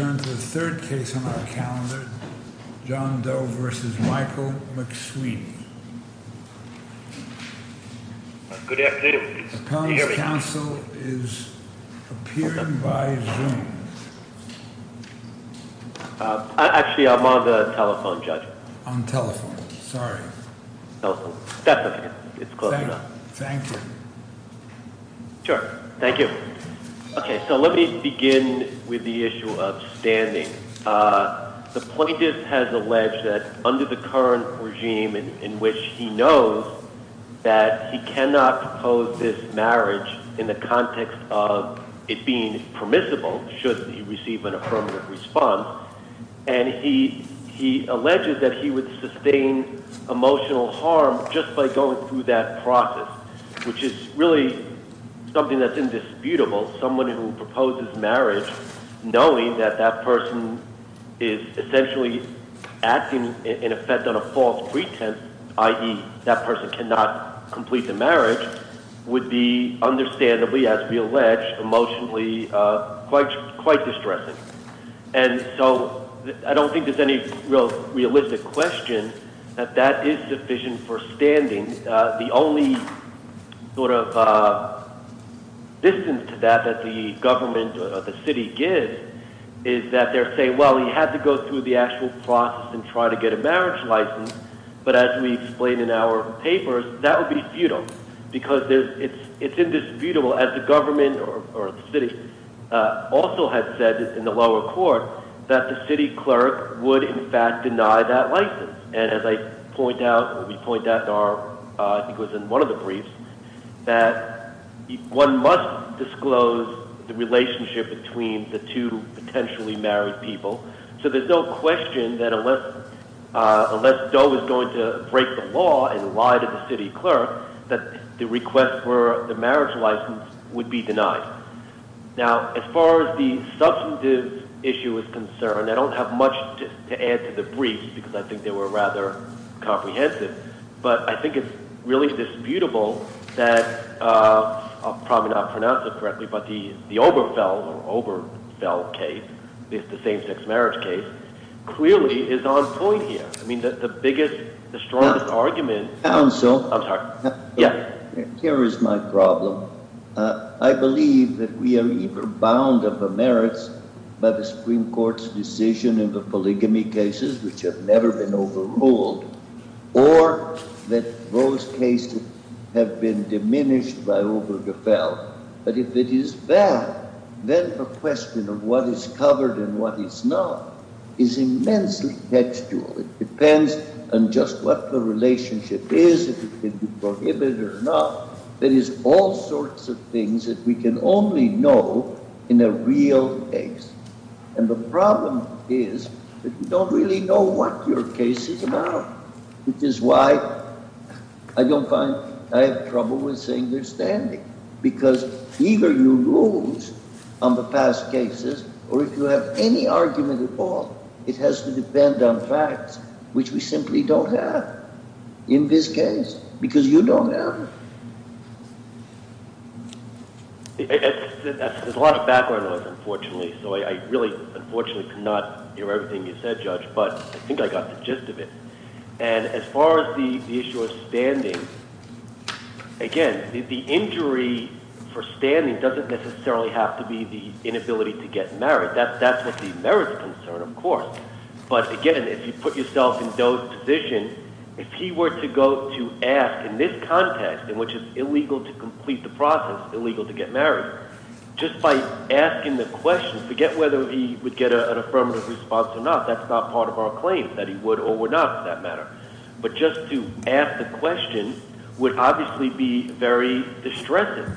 turn to the third case on our calendar, John Doe versus Michael McSweeney. Good afternoon. The appellant's counsel is appearing by Zoom. Actually, I'm on the telephone, Judge. On telephone, sorry. Telephone, definitely, it's close enough. Thank you. Sure, thank you. Okay, so let me begin with the issue of standing. The plaintiff has alleged that under the current regime in which he knows that he cannot pose this marriage in the context of it being permissible, should he receive an affirmative response. And he alleged that he would sustain emotional harm just by going through that process. Which is really something that's indisputable. Someone who proposes marriage, knowing that that person is essentially acting in effect on a false pretense, i.e., that person cannot complete the marriage, would be understandably, as we allege, emotionally quite distressing. And so I don't think there's any real realistic question that that is sufficient for standing. The only sort of distance to that that the government or the city gives is that they're saying, well, you have to go through the actual process and try to get a marriage license, but as we explained in our papers, that would be futile. Because it's indisputable, as the government or the city also had said in the lower court, that the city clerk would, in fact, deny that license. And as I point out, or we point out in our, I think it was in one of the briefs, that one must disclose the relationship between the two potentially married people. So there's no question that unless Doe is going to break the law and lie to the city clerk, that the request for the marriage license would be denied. Now, as far as the substantive issue is concerned, I don't have much to add to the brief, because I think they were rather comprehensive. But I think it's really disputable that, I'll probably not pronounce it correctly, but the Oberfeld case, the same sex marriage case, clearly is on point here. I mean, the biggest, the strongest argument- Counsel. I'm sorry. Yes. Here is my problem. I believe that we are either bound of the merits by the Supreme Court's decision in the polygamy cases, which have never been overruled, or that those cases have been diminished by Obergefell. But if it is bad, then the question of what is covered and what is not is immensely textual. It depends on just what the relationship is, if it can be prohibited or not. There is all sorts of things that we can only know in a real case. And the problem is that we don't really know what your case is about, which is why I don't find... I have trouble with saying they're standing. Because either you lose on the past cases, or if you have any argument at all, it has to depend on facts, which we simply don't have in this case, because you don't have them. There's a lot of background noise, unfortunately. So I really, unfortunately, could not hear everything you said, Judge, but I think I got the gist of it. And as far as the issue of standing, again, the injury for standing doesn't necessarily have to be the inability to get married. That's what the merits concern, of course. But again, if you put yourself in Doe's position, if he were to go to ask, in this context, in which it's illegal to complete the process, illegal to get married, just by asking the question, forget whether he would get an affirmative response or not. That's not part of our claim, that he would or would not, for that matter. But just to ask the question would obviously be very distressing.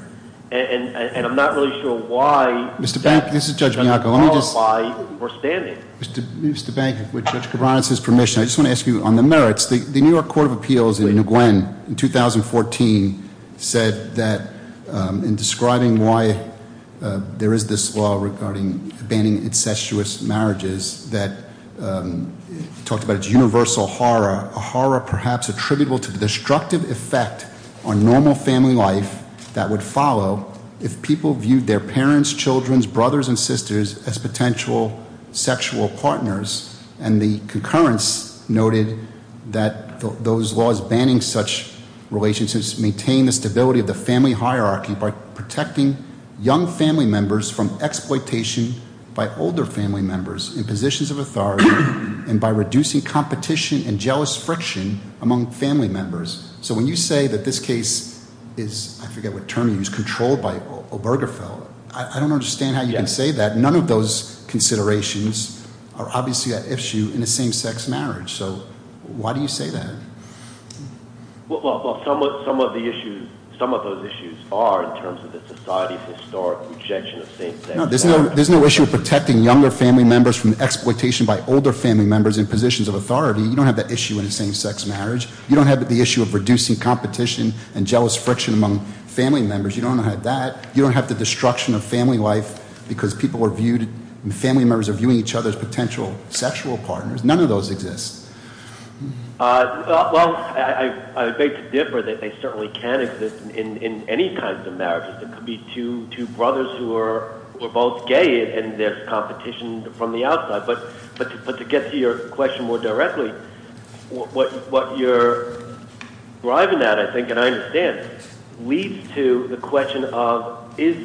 And I'm not really sure why- Mr. Bank, this is Judge Bianco, let me just- Why we're standing. Mr. Bank, with Judge Cabranes' permission, I just want to ask you on the merits. The New York Court of Appeals in New Glen in 2014 said that in describing why there is this law regarding banning incestuous marriages that talked about its universal horror. A horror perhaps attributable to the destructive effect on normal family life that would follow if people viewed their parents, children, brothers, and sisters as potential sexual partners. And the concurrence noted that those laws banning such relationships maintain the stability of the family hierarchy by protecting young family members from exploitation by older family members in positions of authority and by reducing competition and jealous friction among family members. So when you say that this case is, I forget what term you use, controlled by Obergefell, I don't understand how you can say that. And none of those considerations are obviously an issue in a same sex marriage. So why do you say that? Well, some of the issues, some of those issues are in terms of the society's historic objection of same sex marriage. There's no issue of protecting younger family members from exploitation by older family members in positions of authority. You don't have that issue in a same sex marriage. You don't have the issue of reducing competition and jealous friction among family members. You don't have that. You don't have the destruction of family life because people are viewed, and family members are viewing each other as potential sexual partners. None of those exist. Well, I beg to differ that they certainly can exist in any kinds of marriages. It could be two brothers who are both gay and there's competition from the outside. But to get to your question more directly, what you're driving at, I think, and I understand, leads to the question of, is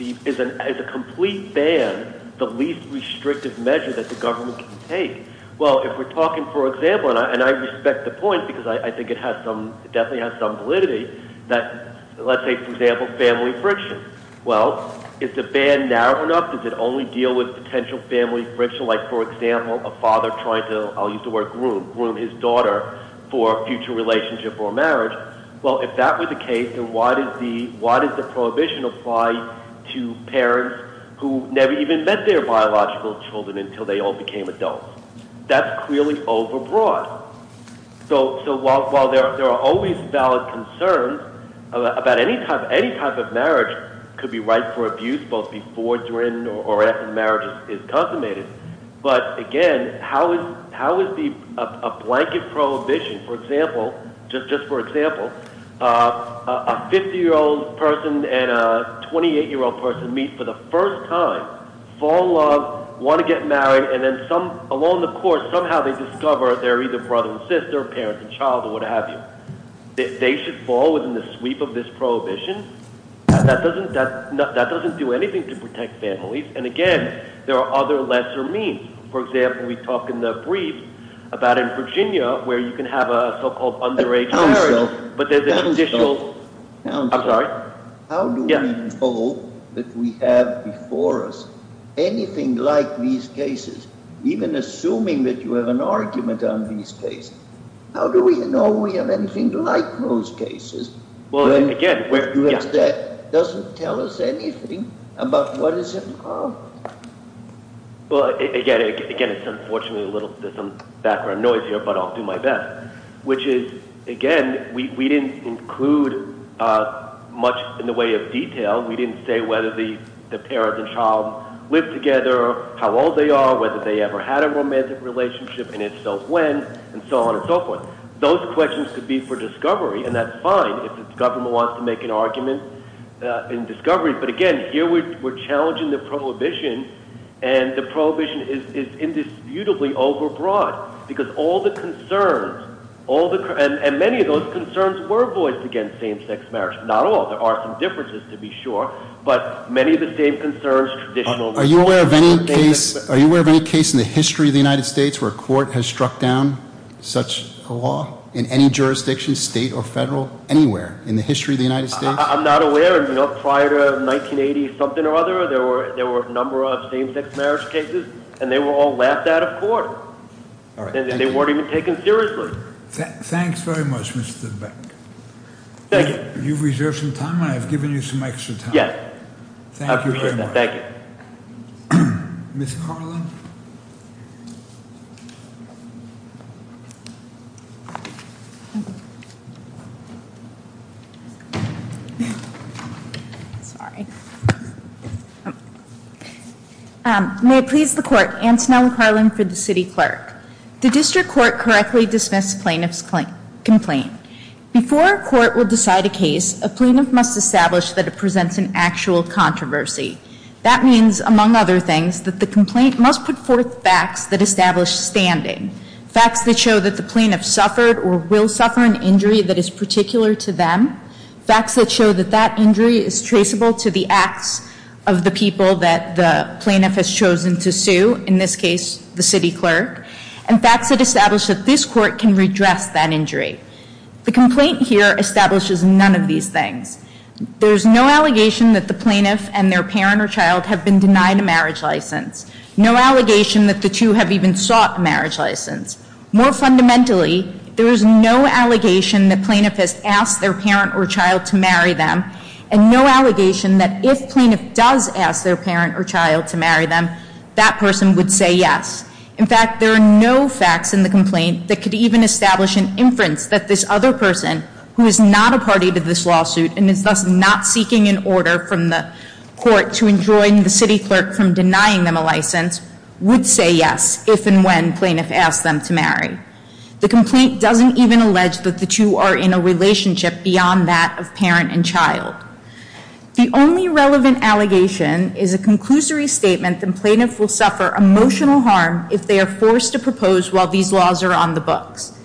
a complete ban the least restrictive measure that the government can take? Well, if we're talking, for example, and I respect the point because I think it definitely has some validity, that, let's say, for example, family friction. Well, is the ban narrow enough? Does it only deal with potential family friction? Like, for example, a father trying to, I'll use the word groom, groom his daughter for a future relationship or marriage. Well, if that were the case, then why does the prohibition apply to parents who never even met their biological children until they all became adults? That's clearly overbroad. So while there are always valid concerns about any type of marriage could be right for abuse, both before, during, or after marriage is consummated. But again, how is a blanket prohibition, for example, a 50-year-old person and a 28-year-old person meet for the first time, fall in love, want to get married, and then along the course, somehow they discover they're either brother and sister, parent and child, or what have you. They should fall within the sweep of this prohibition. That doesn't do anything to protect families. And again, there are other lesser means. For example, we talked in the brief about in Virginia, where you can have a so-called underage marriage. But there's a conditional... Councilor, how do we know that we have before us anything like these cases, even assuming that you have an argument on these cases? How do we know we have anything like those cases, when you have that doesn't tell us anything about what is involved? Well, again, it's unfortunately a little background noise here, but I'll do my best. Which is, again, we didn't include much in the way of detail. We didn't say whether the parent and child live together, how old they are, whether they ever had a romantic relationship, and if so, when, and so on and so forth. Those questions could be for discovery, and that's fine if the government wants to make an argument in discovery. But again, here we're challenging the prohibition, and the prohibition is indisputably overbroad. Because all the concerns, and many of those concerns were voiced against same-sex marriage. Not all, there are some differences, to be sure, but many of the same concerns, traditional... Are you aware of any case in the history of the United States where a court has struck down such a law? In any jurisdiction, state or federal, anywhere in the history of the United States? I'm not aware, and prior to 1980-something or other, there were a number of same-sex marriage cases, and they were all laughed out of court. And they weren't even taken seriously. Thanks very much, Mr. Beck. Thank you. You've reserved some time, and I've given you some extra time. Yes. Thank you very much. Thank you. Ms. Carlin? Sorry. May it please the court, Antonella Carlin for the city clerk. The district court correctly dismissed plaintiff's complaint. Before a court will decide a case, a plaintiff must establish that it presents an actual controversy. That means, among other things, that the complaint must put forth facts that establish standing. Facts that show that the plaintiff suffered or will suffer an injury that is particular to them. Facts that show that that injury is traceable to the acts of the people that the plaintiff has chosen to sue. In this case, the city clerk. And facts that establish that this court can redress that injury. The complaint here establishes none of these things. There's no allegation that the plaintiff and their parent or child have been denied a marriage license. No allegation that the two have even sought a marriage license. More fundamentally, there is no allegation that plaintiff has asked their parent or child to marry them. And no allegation that if plaintiff does ask their parent or child to marry them, that person would say yes. In fact, there are no facts in the complaint that could even establish an inference that this other person, who is not a party to this lawsuit and is thus not seeking an order from the court to enjoin the city clerk from denying them a license. Would say yes, if and when plaintiff asked them to marry. The complaint doesn't even allege that the two are in a relationship beyond that of parent and child. The only relevant allegation is a conclusory statement that plaintiff will suffer emotional harm if they are forced to propose while these laws are on the books.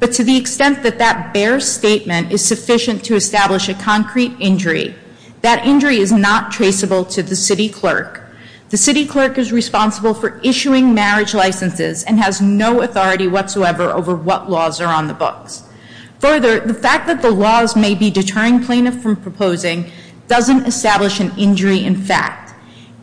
But to the extent that that bare statement is sufficient to establish a concrete injury, that injury is not traceable to the city clerk. The city clerk is responsible for issuing marriage licenses and has no authority whatsoever over what laws are on the books. Further, the fact that the laws may be deterring plaintiff from proposing doesn't establish an injury in fact.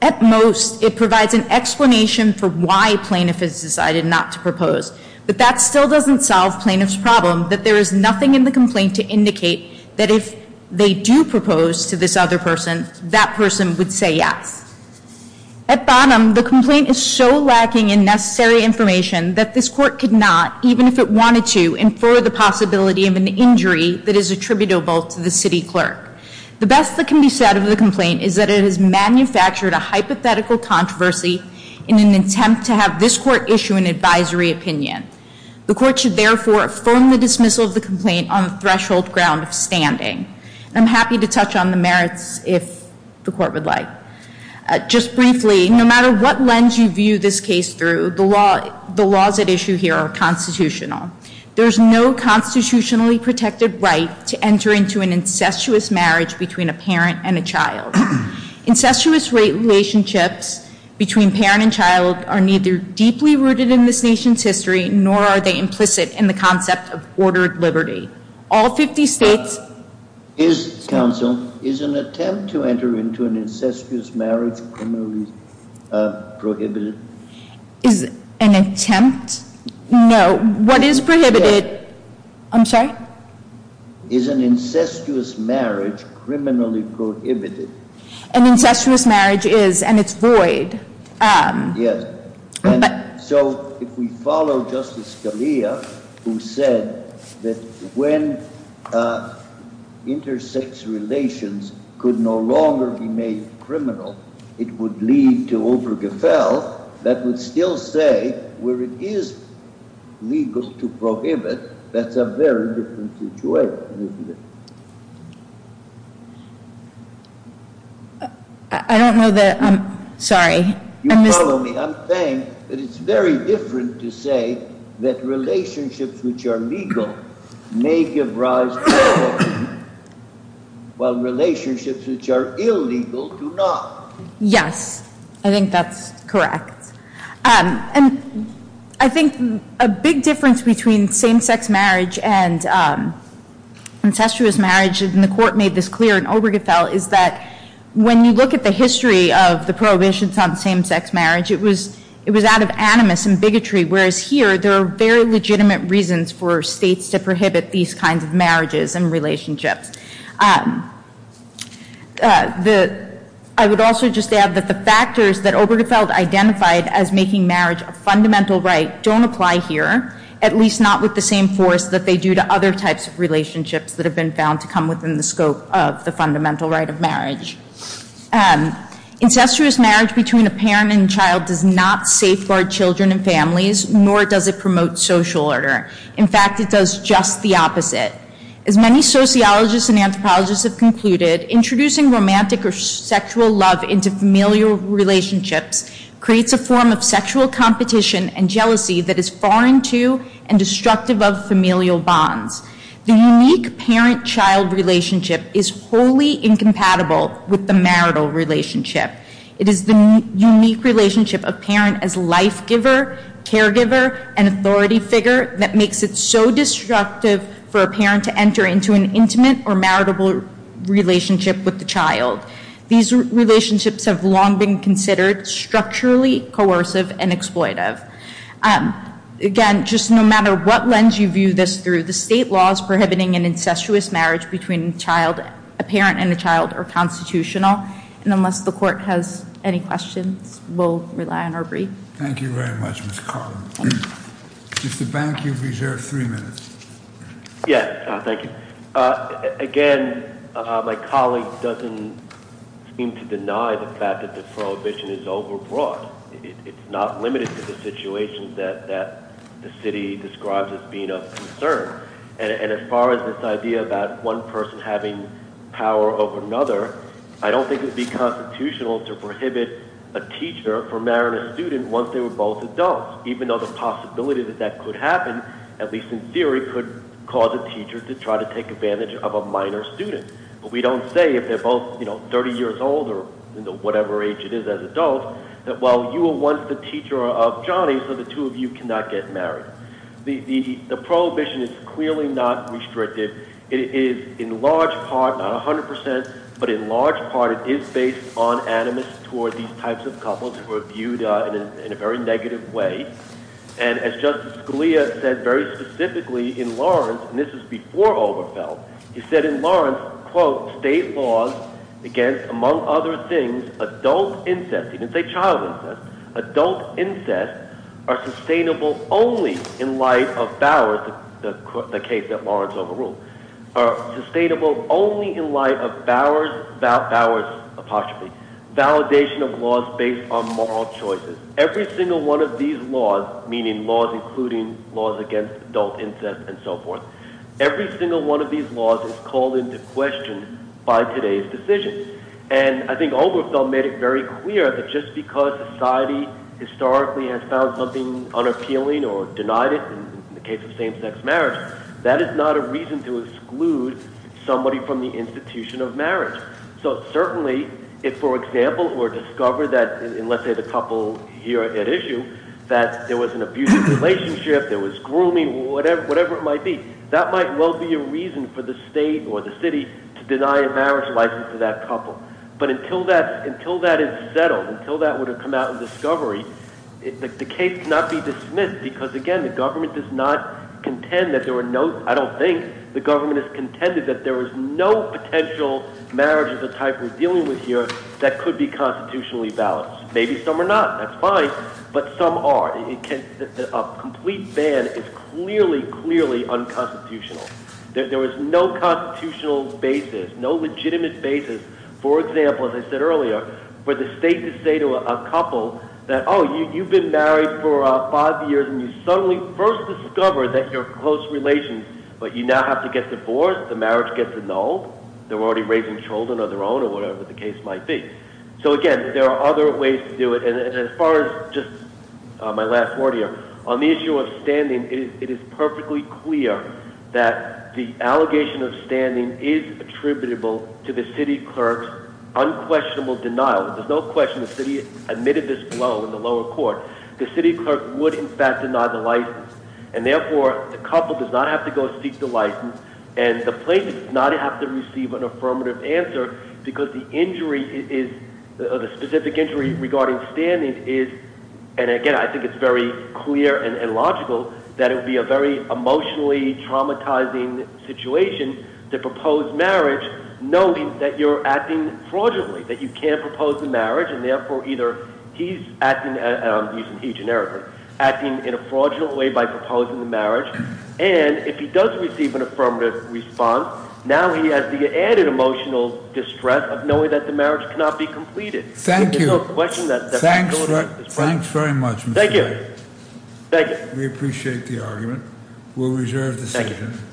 At most, it provides an explanation for why plaintiff has decided not to propose. But that still doesn't solve plaintiff's problem, that there is nothing in the complaint to indicate that if they do propose to this other person, that person would say yes. At bottom, the complaint is so lacking in necessary information that this court could not, even if it wanted to, infer the possibility of an injury that is attributable to the city clerk. The best that can be said of the complaint is that it has manufactured a hypothetical controversy in an attempt to have this court issue an advisory opinion. The court should therefore affirm the dismissal of the complaint on the threshold ground of standing. I'm happy to touch on the merits if the court would like. Just briefly, no matter what lens you view this case through, the laws at issue here are constitutional. There's no constitutionally protected right to enter into an incestuous marriage between a parent and a child. Incestuous relationships between parent and child are neither deeply rooted in this nation's history, nor are they implicit in the concept of ordered liberty. All 50 states- Is, counsel, is an attempt to enter into an incestuous marriage criminally prohibited? Is an attempt? No. What is prohibited? I'm sorry? Is an incestuous marriage criminally prohibited? An incestuous marriage is, and it's void. Yes. So, if we follow Justice Scalia, who said that when intersex relations could no longer be made criminal, it would lead to overgefell, that would still say where it is legal to prohibit, that's a very different situation, isn't it? I don't know that, I'm sorry. You follow me? I'm saying that it's very different to say that relationships which are legal may give rise to- While relationships which are illegal do not. Yes, I think that's correct. And I think a big difference between same-sex marriage and incestuous marriage, and the court made this clear in Obergefell, is that when you look at the history of the prohibitions on same-sex marriage, it was out of animus and bigotry, whereas here, there are very legitimate reasons for states to prohibit these kinds of marriages and relationships. I would also just add that the factors that Obergefell identified as making marriage a fundamental right don't apply here, at least not with the same force that they do to other types of relationships that have been found to come within the scope of the fundamental right of marriage. Incestuous marriage between a parent and child does not safeguard children and families, nor does it promote social order. In fact, it does just the opposite. As many sociologists and anthropologists have concluded, introducing romantic or sexual love into familial relationships creates a form of sexual competition and jealousy that is foreign to and destructive of familial bonds. The unique parent-child relationship is wholly incompatible with the marital relationship. It is the unique relationship of parent as life giver, caregiver, and authority figure that makes it so destructive for a parent to enter into an intimate or maritable relationship with the child. These relationships have long been considered structurally coercive and exploitive. Again, just no matter what lens you view this through, the state law is prohibiting an incestuous marriage between a parent and a child are constitutional. And unless the court has any questions, we'll rely on our brief. Thank you very much, Ms. Carlin. Mr. Bank, you've reserved three minutes. Yes, thank you. Again, my colleague doesn't seem to deny the fact that the prohibition is overbroad. It's not limited to the situation that the city describes as being of concern. And as far as this idea about one person having power over another, I don't think it would be constitutional to prohibit a teacher from marrying a student once they were both adults. Even though the possibility that that could happen, at least in theory, could cause a teacher to try to take advantage of a minor student. But we don't say if they're both 30 years old or whatever age it is as adults, that well, you were once the teacher of Johnny, so the two of you cannot get married. The prohibition is clearly not restricted. It is in large part, not 100%, but in large part, it is based on animus toward these types of couples who are viewed in a very negative way. And as Justice Scalia said very specifically in Lawrence, and this is before Oberfeldt, he said in Lawrence, quote, state laws against, among other things, adult incest. He didn't say child incest. Adult incest are sustainable only in light of Bowers, the case that Lawrence overruled. Are sustainable only in light of Bowers, Bowers, apostrophe. Validation of laws based on moral choices. Every single one of these laws, meaning laws including laws against adult incest and so forth. Every single one of these laws is called into question by today's decision. And I think Oberfeldt made it very clear that just because society historically has found something unappealing or denied it, in the case of same sex marriage, that is not a reason to exclude somebody from the institution of marriage. So certainly, if, for example, were to discover that, and let's say the couple here at issue, that there was an abusive relationship, there was grooming, whatever it might be, that might well be a reason for the state or the city to deny a marriage license to that couple. But until that is settled, until that would have come out in discovery, the case cannot be dismissed because, again, the government does not contend that there are no, I don't think the government has contended that there is no potential marriage of the type we're dealing with here that could be constitutionally balanced. Maybe some are not, that's fine. But some are, a complete ban is clearly, clearly unconstitutional. There is no constitutional basis, no legitimate basis, for example, as I said earlier, for the state to say to a couple that, you've been married for five years and you suddenly first discovered that you're close relations, but you now have to get divorced, the marriage gets annulled, they're already raising children of their own or whatever the case might be. So again, there are other ways to do it, and as far as just my last word here, on the issue of standing, it is perfectly clear that the allegation of standing is attributable to the city clerk's unquestionable denial. There's no question the city admitted this blow in the lower court. The city clerk would, in fact, deny the license. And therefore, the couple does not have to go seek the license, and the plaintiff does not have to receive an affirmative answer, because the specific injury regarding standing is, and again, I think it's very clear and logical that it would be a very emotionally traumatizing situation to propose marriage, knowing that you're acting fraudulently. That you can't propose the marriage, and therefore, either he's acting, and I'm using he generically, acting in a fraudulent way by proposing the marriage. And if he does receive an affirmative response, now he has the added emotional distress of knowing that the marriage cannot be completed. There's no question that- Thank you. Thanks very much. Thank you. Thank you. We appreciate the argument. We'll reserve the session. Thank you.